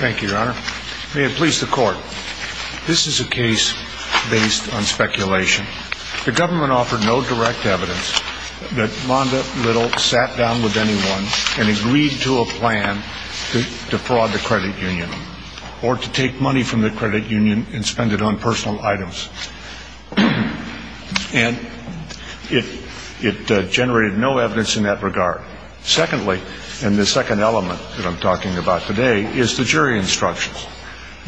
May it please the court, this is a case based on speculation. The government offered no direct evidence that Rhonda Liddle sat down with anyone and agreed to a plan to defraud the credit union or to take money from the credit union and spend it on personal items. And it generated no evidence in that regard. Secondly, and the second element that I'm talking about today, is the jury instructions.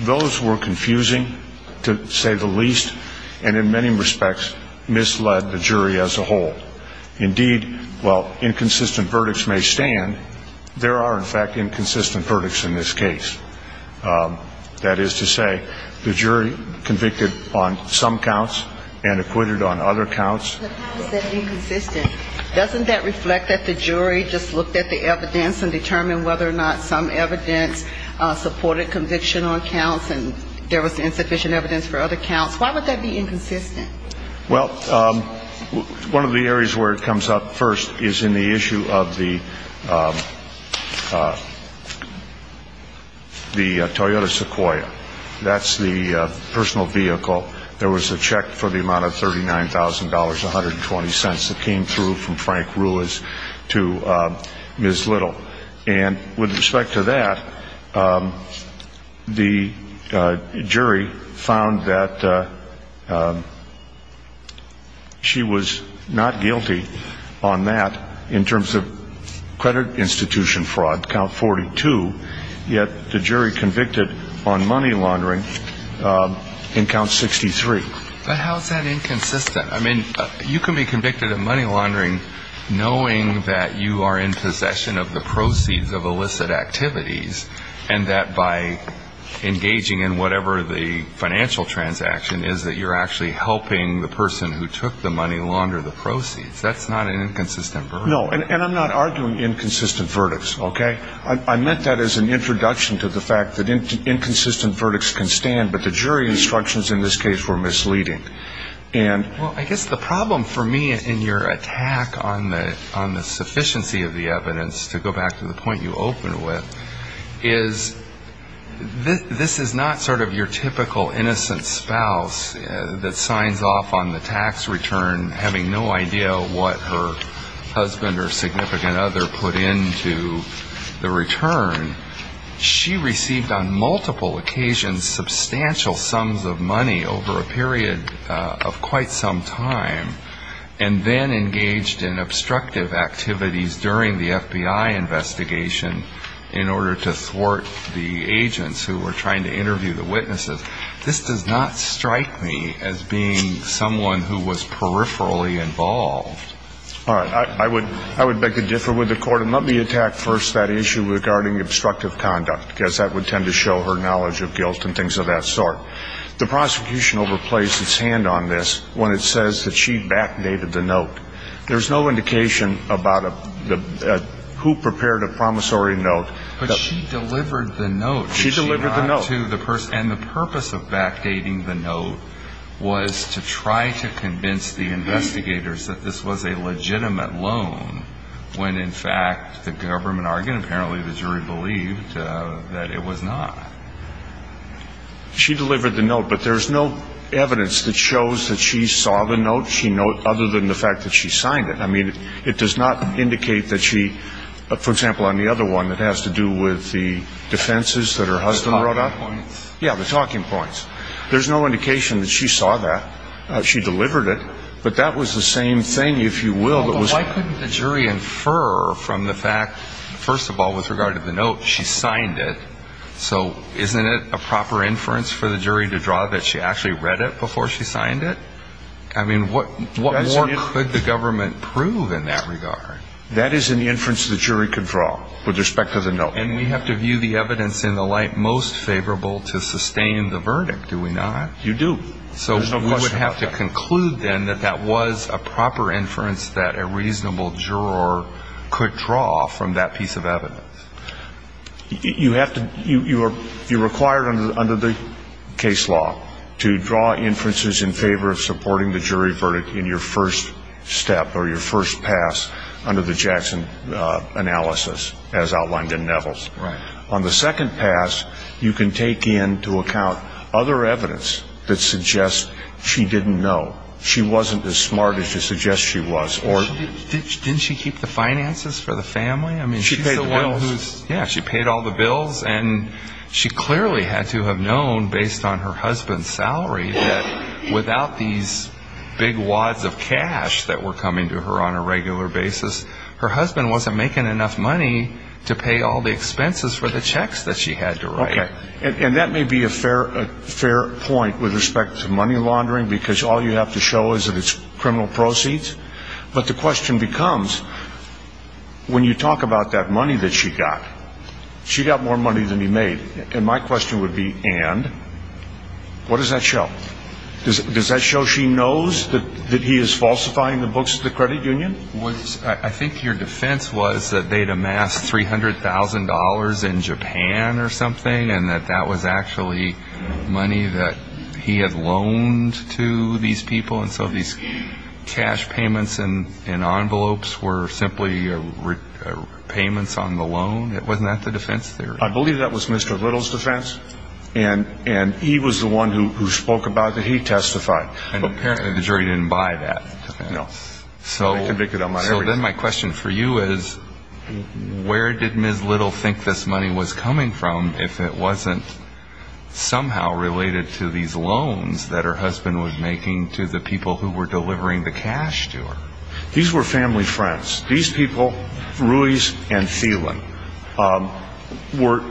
Those were confusing to say the least and in many respects misled the jury as a whole. Indeed, while inconsistent verdicts may stand, there are in fact inconsistent verdicts in this case. That is to say, the jury convicted on some counts and acquitted on other counts. But how is that inconsistent? Doesn't that reflect that the jury just looked at the evidence and determined whether or not some evidence supported conviction on counts and there was insufficient evidence for other counts? Why would that be inconsistent? Well, one of the areas where it comes up first is in the issue of the Toyota Sequoia. That's the personal vehicle. There was a check for the amount of $39,000.120 that came through from Frank Rulis to Ms. Liddle. And with respect to that, the jury found that she was not guilty on that in terms of credit institution fraud, count 42, yet the jury convicted on money laundering in count 63. But how is that inconsistent? I mean, you can be convicted of money laundering knowing that you are in possession of the proceeds of illicit activities and that by engaging in whatever the financial transaction is that you're actually helping the person who took the money launder the proceeds. That's not an inconsistent verdict. Well, I guess the problem for me in your attack on the sufficiency of the evidence, to go back to the point you opened with, is this is not sort of your typical innocent spouse that signs off on the tax return having no idea what her husband or significant other put into the return. She received on multiple occasions substantial sums of money over a period of quite some time and then engaged in obstructive activities during the FBI investigation in order to thwart the agents who were trying to interview the witnesses. This does not strike me as being someone who was peripherally involved. All right. I would beg to differ with the court. And let me attack first that issue regarding obstructive conduct, because that would tend to show her knowledge of guilt and things of that sort. The prosecution overplays its hand on this when it says that she backdated the note. There's no indication about who prepared a promissory note. But she delivered the note. She delivered the note. And the purpose of backdating the note was to try to convince the investigators that this was a legitimate loan, when in fact the government argued, apparently the jury believed, that it was not. She delivered the note. But there's no evidence that shows that she saw the note, she note, other than the fact that she signed it. I mean, it does not indicate that she, for example, on the other one that has to do with the defenses that her husband wrote out. The talking points. Yeah, the talking points. There's no indication that she saw that. She delivered it. But that was the same thing, if you will, that was Why couldn't the jury infer from the fact, first of all, with regard to the note, she signed it, so isn't it a proper inference for the jury to draw that she actually read it before she signed it? I mean, what more could the government prove in that regard? That is an inference the jury could draw with respect to the note. And we have to view the evidence in the light most favorable to sustain the verdict, do we not? You do. So we would have to conclude then that that was a proper inference that a reasonable juror could draw from that piece of evidence. You have to, you are required under the case law to draw inferences in favor of supporting the jury verdict in your first step or your first pass under the Jackson analysis as outlined in Neville's. Right. On the second pass, you can take into account other evidence that suggests she didn't know. She wasn't as smart as you suggest she was. Didn't she keep the finances for the family? She paid the bills. And she clearly had to have known based on her husband's salary that without these big wads of cash that were coming to her on a regular basis, her husband wasn't making enough money to pay all the expenses for the checks that she had to write. Okay. And that may be a fair point with respect to money laundering because all you have to show is that it's criminal proceeds. But the question becomes when you talk about that money that she got, she got more money than he made. And my question would be, and what does that show? Does that show she knows that he is falsifying the books of the credit union? I think your defense was that they'd amassed $300,000 in Japan or something and that that was actually money that he had loaned to these people. And so these cash payments and envelopes were simply payments on the loan. Wasn't that the defense theory? I believe that was Mr. Little's defense. And he was the one who spoke about it. He testified. And apparently the jury didn't buy that. No. So then my question for you is, where did Ms. Little think this money was coming from if it wasn't somehow related to these loans that her husband was making to the people who were delivering the cash to her? These were family friends. These people, Ruiz and Thielen, were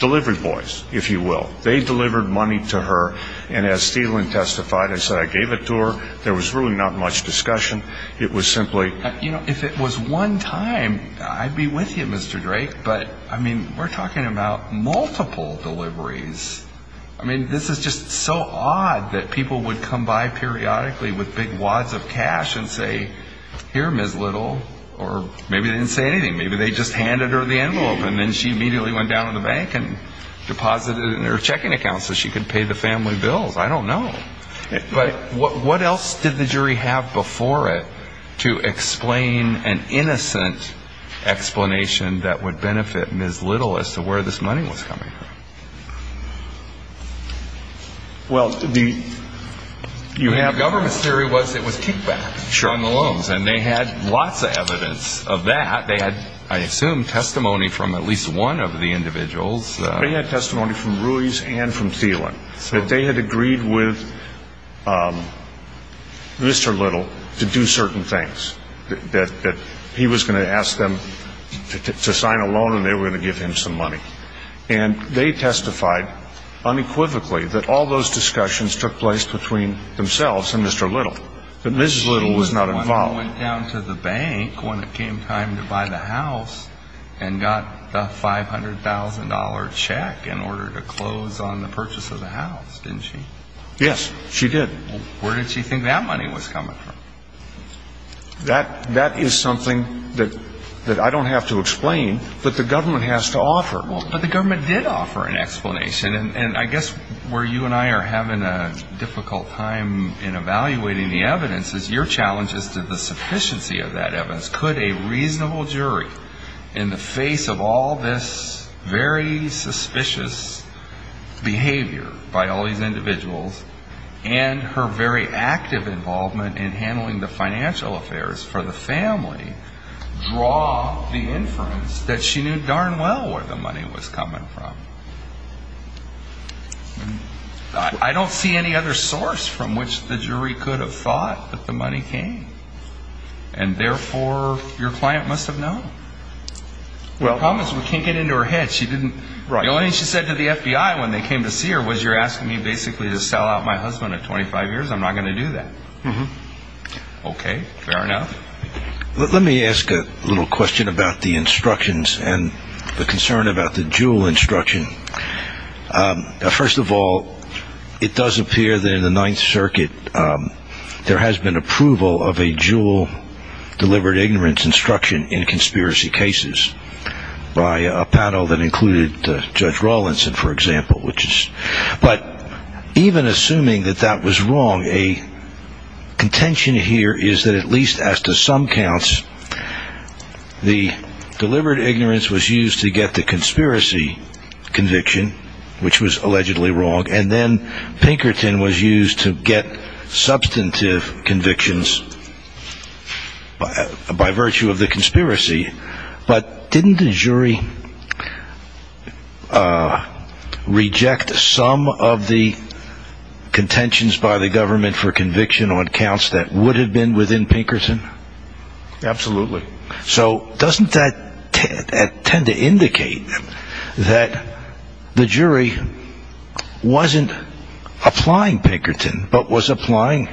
delivery boys, if you will. They delivered money to her. And as Thielen testified and said, I gave it to her. There was really not much discussion. It was simply. You know, if it was one time, I'd be with you, Mr. Drake. But, I mean, we're talking about multiple deliveries. I mean, this is just so odd that people would come by periodically with big wads of cash and say, here, Ms. Little. Or maybe they didn't say anything. Maybe they just handed her the envelope. And then she immediately went down to the bank and deposited it in her checking account so she could pay the family bills. I don't know. But what else did the jury have before it to explain an innocent explanation that would benefit Ms. Little as to where this money was coming from? Well, the. You have. Government's theory was it was kickback from the loans. And they had lots of evidence of that. They had, I assume, testimony from at least one of the individuals. They had testimony from Ruiz and from Thielen that they had agreed with Mr. Little to do certain things. That he was going to ask them to sign a loan and they were going to give him some money. And they testified unequivocally that all those discussions took place between themselves and Mr. Little. But Ms. Little was not involved. Ms. Little went down to the bank when it came time to buy the house and got the $500,000 check in order to close on the purchase of the house, didn't she? Yes, she did. Where did she think that money was coming from? That is something that I don't have to explain but the government has to offer. But the government did offer an explanation. And I guess where you and I are having a difficult time in evaluating the evidence is your challenge as to the sufficiency of that evidence. Could a reasonable jury in the face of all this very suspicious behavior by all these individuals and her very active involvement in handling the financial affairs for the family, draw the inference that she knew darn well where the money was coming from? I don't see any other source from which the jury could have thought that the money came. And therefore, your client must have known. The problem is we can't get into her head. The only thing she said to the FBI when they came to see her was you're asking me basically to sell out my husband at 25 years. I'm not going to do that. Okay, fair enough. Let me ask a little question about the instructions and the concern about the Juul instruction. First of all, it does appear that in the Ninth Circuit there has been approval of a Juul deliberate ignorance instruction in conspiracy cases by a panel that included Judge Rawlinson, for example. But even assuming that that was wrong, a contention here is that at least as to some counts, the deliberate ignorance was used to get the conspiracy conviction, which was allegedly wrong. And then Pinkerton was used to get substantive convictions by virtue of the conspiracy. But didn't the jury reject some of the contentions by the government for conviction on counts that would have been within Pinkerton? Absolutely. So doesn't that tend to indicate that the jury wasn't applying Pinkerton but was applying,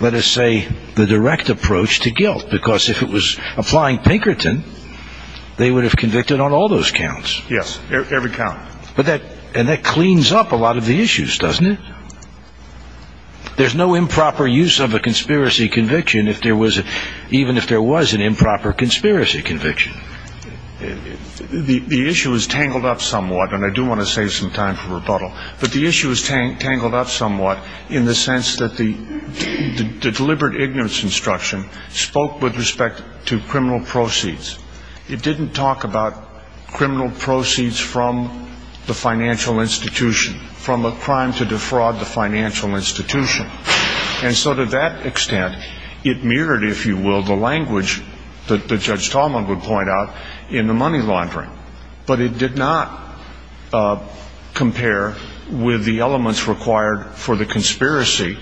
let us say, the direct approach to guilt? Because if it was applying Pinkerton, they would have convicted on all those counts. Yes, every count. And that cleans up a lot of the issues, doesn't it? There's no improper use of a conspiracy conviction even if there was an improper conspiracy conviction. The issue is tangled up somewhat, and I do want to save some time for rebuttal. But the issue is tangled up somewhat in the sense that the deliberate ignorance instruction spoke with respect to criminal proceeds. It didn't talk about criminal proceeds from the financial institution, from a crime to defraud the financial institution. And so to that extent, it mirrored, if you will, the language that Judge Tallman would point out in the money laundering. But it did not compare with the elements required for the conspiracy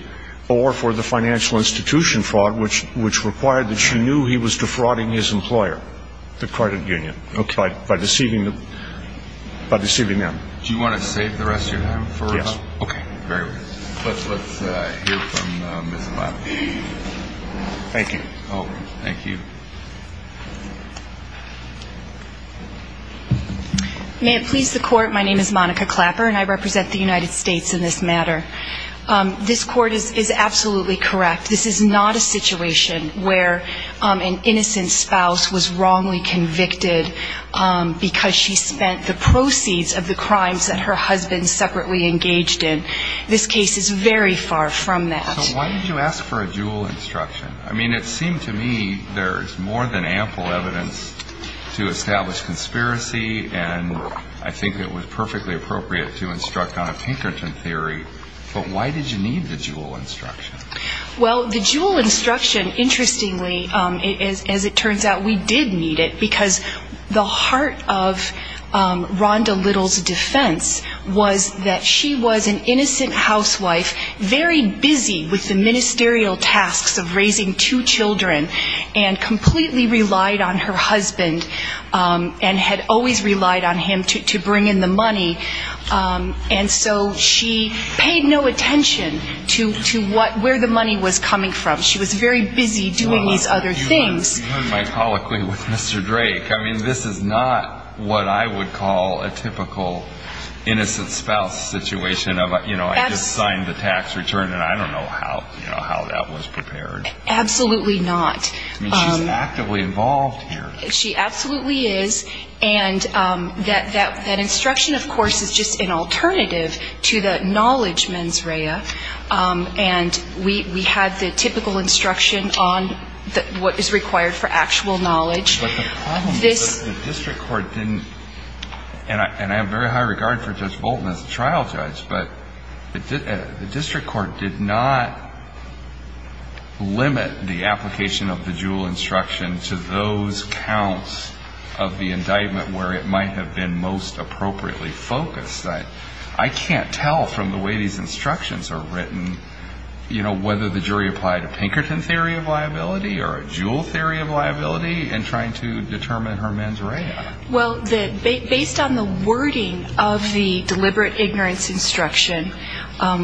or for the financial institution fraud, which required that she knew he was defrauding his employer, the credit union, by deceiving them. Do you want to save the rest of your time for rebuttal? Yes. Okay, very well. Let's hear from Ms. Lambert. Thank you. May it please the Court, my name is Monica Clapper, and I represent the United States in this matter. This Court is absolutely correct. This is not a situation where an innocent spouse was wrongly convicted because she spent the proceeds of the crimes that her husband separately engaged in. This case is very far from that. So why did you ask for a Juul instruction? I mean, it seemed to me there's more than ample evidence to establish conspiracy, and I think it was perfectly appropriate to instruct on a Pinkerton theory. But why did you need the Juul instruction? Well, the Juul instruction, interestingly, as it turns out, we did need it because the heart of Rhonda Little's defense was that she was an innocent housewife, very busy with the ministerial tasks of raising two children, and completely relied on her husband and had always relied on him to bring in the money. And so she paid no attention to where the money was coming from. She was very busy doing these other things. You heard my colloquy with Mr. Drake. I mean, this is not what I would call a typical innocent spouse situation. You know, I just signed the tax return, and I don't know how that was prepared. Absolutely not. I mean, she's actively involved here. She absolutely is. And that instruction, of course, is just an alternative to the knowledge mens rea. And we had the typical instruction on what is required for actual knowledge. But the problem is that the district court didn't, and I have very high regard for Judge Bolton as a trial judge, but the district court did not limit the application of the Juul instruction to those counts of the indictment where it might have been most appropriately focused. I can't tell from the way these instructions are written, you know, whether the jury applied a Pinkerton theory of liability or a Juul theory of liability in trying to determine her mens rea. Well, based on the wording of the deliberate ignorance instruction,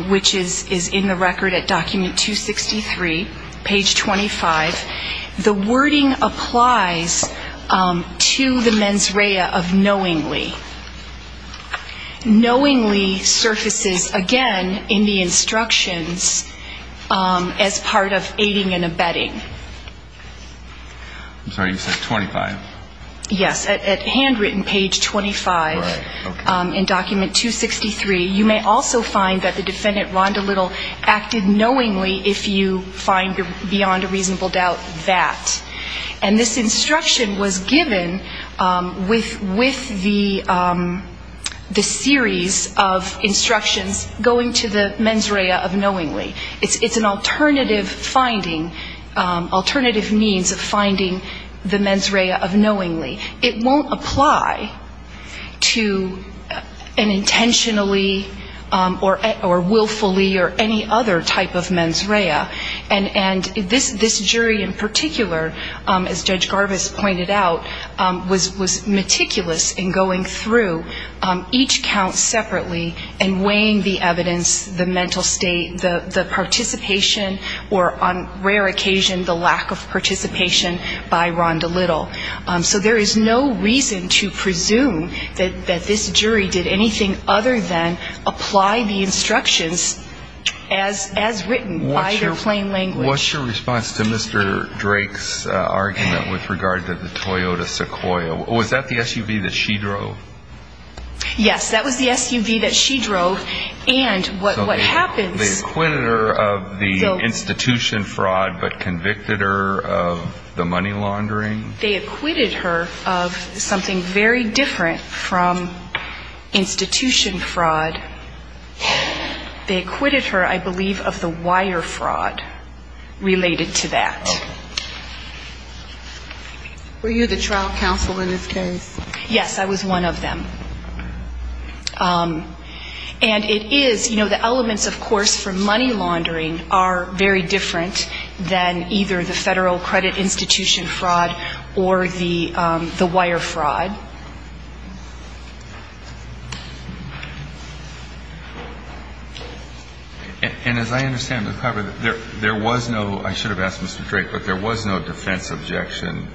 which is in the record at document 263, page 25, the wording applies to the mens rea of knowingly. Knowingly surfaces again in the instructions as part of aiding and abetting. I'm sorry, you said 25. Yes, at handwritten page 25 in document 263. You may also find that the defendant, Rhonda Little, acted knowingly if you find beyond a reasonable doubt that. And this instruction was given with the series of instructions going to the mens rea of knowingly. It's an alternative finding, alternative means of finding the mens rea of knowingly. It won't apply to an intentionally or willfully or any other type of mens rea. And this jury in particular, as Judge Garvis pointed out, was meticulous in going through each count separately and weighing the evidence, the mental state, the participation, or on rare occasion the lack of participation by Rhonda Little. So there is no reason to presume that this jury did anything other than apply the instructions as written by their plain language. What's your response to Mr. Drake's argument with regard to the Toyota Sequoia? Was that the SUV that she drove? Yes, that was the SUV that she drove. And what happens? So they acquitted her of the institution fraud but convicted her of the money laundering? They acquitted her of something very different from institution fraud. They acquitted her, I believe, of the wire fraud related to that. Were you the trial counsel in this case? Yes, I was one of them. And it is, you know, the elements, of course, for money laundering are very different than either the Federal credit institution fraud or the wire fraud. And as I understand the cover, there was no, I should have asked Mr. Drake, but there was no defense objection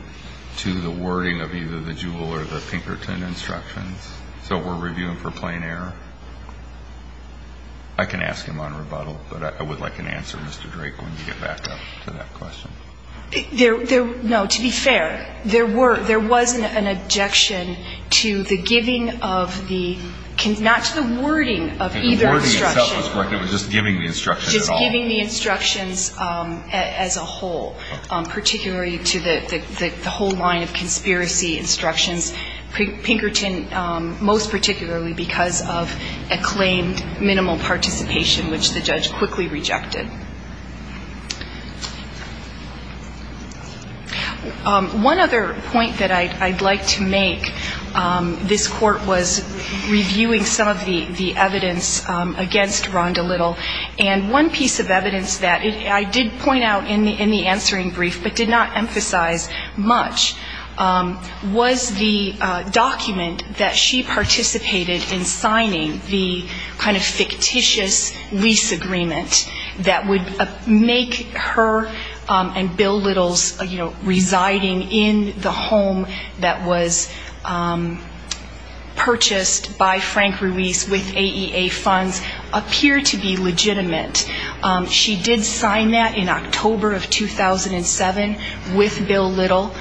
to the wording of either the Jewell or the Pinkerton instructions. So we're reviewing for plain error? I can ask him on rebuttal, but I would like an answer, Mr. Drake, when you get back up to that question. No, to be fair, there were, there was an objection to the giving of the, not to the wording of either instruction. The wording itself was correct. It was just giving the instructions at all. Just giving the instructions as a whole, particularly to the whole line of conspiracy instructions. Pinkerton, most particularly because of acclaimed minimal participation, which the judge quickly rejected. One other point that I'd like to make, this Court was reviewing some of the evidence against Rhonda Little. And one piece of evidence that I did point out in the answering brief, but did not point out, was the document that she participated in signing, the kind of fictitious lease agreement that would make her and Bill Little's, you know, residing in the home that was purchased by Frank Ruiz with AEA funds appear to be legitimate. She did sign that in October of 2007 with Bill Little,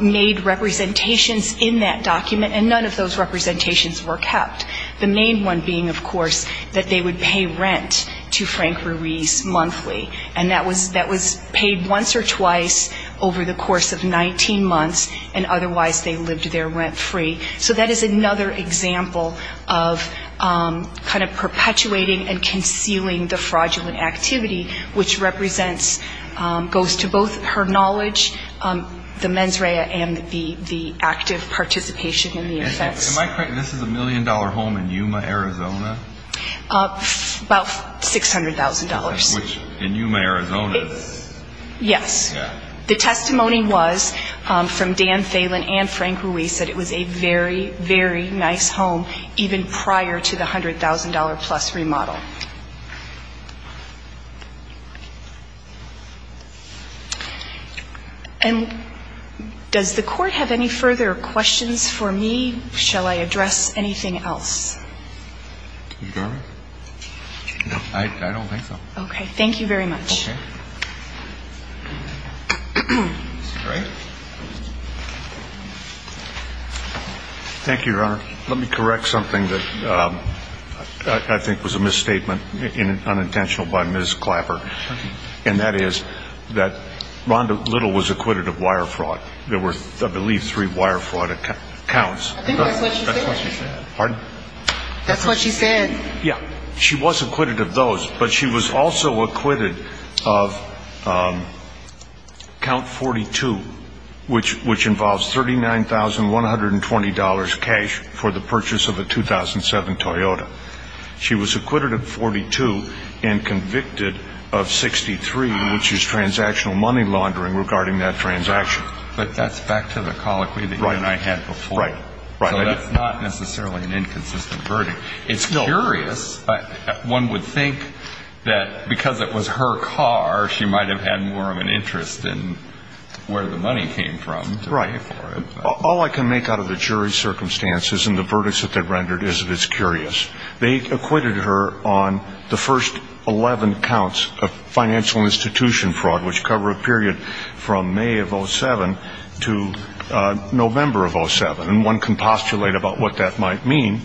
made representations in that document, and none of those representations were kept. The main one being, of course, that they would pay rent to Frank Ruiz monthly. And that was paid once or twice over the course of 19 months, and otherwise they lived there rent free. So that is another example of kind of perpetuating and concealing the fraudulent activity, which represents, goes to both her knowledge, the mens rea and the active participation in the offense. This is a million-dollar home in Yuma, Arizona? About $600,000. In Yuma, Arizona? Yes. Yeah. The testimony was from Dan Phelan and Frank Ruiz that it was a very, very nice home, even prior to the $100,000-plus remodel. And does the Court have any further questions? If there are no further questions for me, shall I address anything else? Ms. Garvin? No. I don't think so. Okay. Thank you very much. Okay. Mr. Gray? Thank you, Your Honor. Let me correct something that I think was a misstatement, unintentional by Ms. Clapper. Okay. And that is that Rhonda Little was acquitted of wire fraud. There were, I believe, three wire fraud accounts. I think that's what she said. Pardon? That's what she said. Yeah. She was acquitted of those, but she was also acquitted of Count 42, which involves $39,120 cash for the purchase of a 2007 Toyota. She was acquitted of 42 and convicted of 63, which is transactional money laundering regarding that transaction. But that's back to the colloquy that you and I had before. Right. So that's not necessarily an inconsistent verdict. It's curious. One would think that because it was her car, she might have had more of an interest in where the money came from. Right. All I can make out of the jury's circumstances and the verdicts that they rendered is that it's curious. They acquitted her on the first 11 counts of financial institution fraud, which cover a period from May of 2007 to November of 2007. And one can postulate about what that might mean.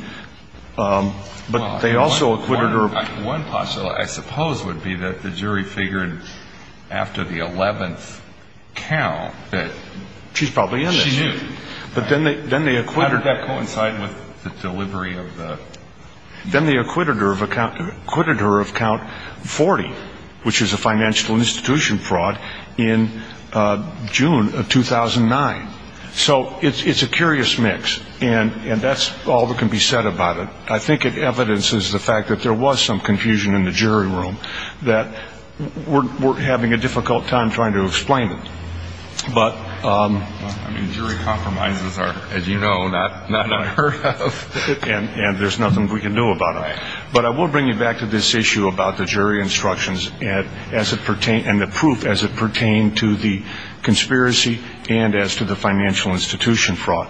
But they also acquitted her. One postulate, I suppose, would be that the jury figured after the 11th count that she knew. She's probably in this. But then they acquitted her. How did that coincide with the delivery of the? Then they acquitted her of count 40, which is a financial institution fraud, in June of 2009. So it's a curious mix. And that's all that can be said about it. I think it evidences the fact that there was some confusion in the jury room, that we're having a difficult time trying to explain it. I mean, jury compromises are, as you know, not unheard of. And there's nothing we can do about it. But I will bring you back to this issue about the jury instructions and the proof as it pertained to the conspiracy and as to the financial institution fraud.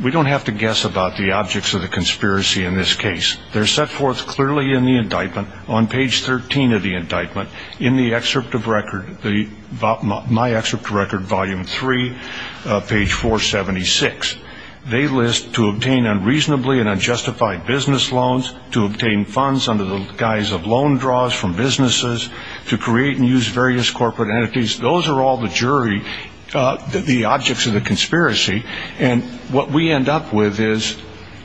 We don't have to guess about the objects of the conspiracy in this case. They're set forth clearly in the indictment. On page 13 of the indictment, in the excerpt of record, my excerpt of record, volume 3, page 476, they list to obtain unreasonably and unjustified business loans, to obtain funds under the guise of loan draws from businesses, to create and use various corporate entities. Those are all the jury, the objects of the conspiracy. And what we end up with is,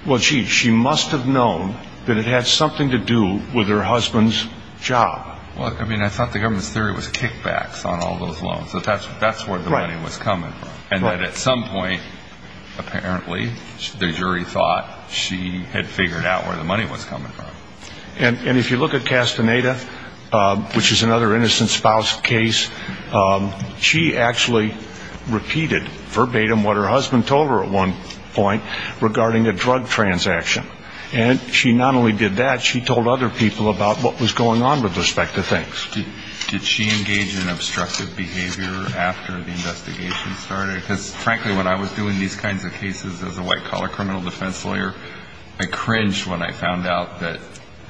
well, gee, she must have known that it had something to do with her husband's job. Well, I mean, I thought the government's theory was kickbacks on all those loans, that that's where the money was coming from. And that at some point, apparently, the jury thought she had figured out where the money was coming from. And if you look at Castaneda, which is another innocent spouse case, she actually repeated verbatim what her husband told her at one point regarding a drug transaction. And she not only did that, she told other people about what was going on with respect to things. Did she engage in obstructive behavior after the investigation started? Because, frankly, when I was doing these kinds of cases as a white-collar criminal defense lawyer, I cringed when I found out that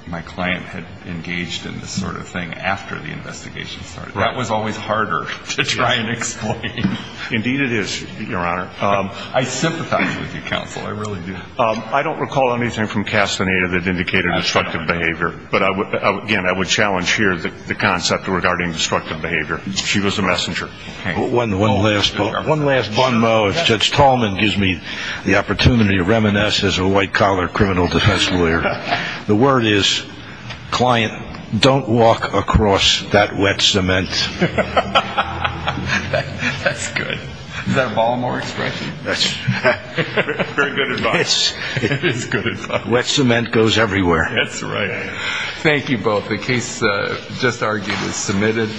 my client had engaged in this sort of thing after the investigation started. That was always harder to try and explain. Indeed it is, Your Honor. I sympathize with you, Counsel. I really do. I don't recall anything from Castaneda that indicated obstructive behavior. But, again, I would challenge here the concept regarding obstructive behavior. She was a messenger. One last bunmo. If Judge Tallman gives me the opportunity to reminisce as a white-collar criminal defense lawyer, the word is, client, don't walk across that wet cement. That's good. Is that a Baltimore expression? Very good advice. Wet cement goes everywhere. That's right. Thank you both. The case just argued is submitted.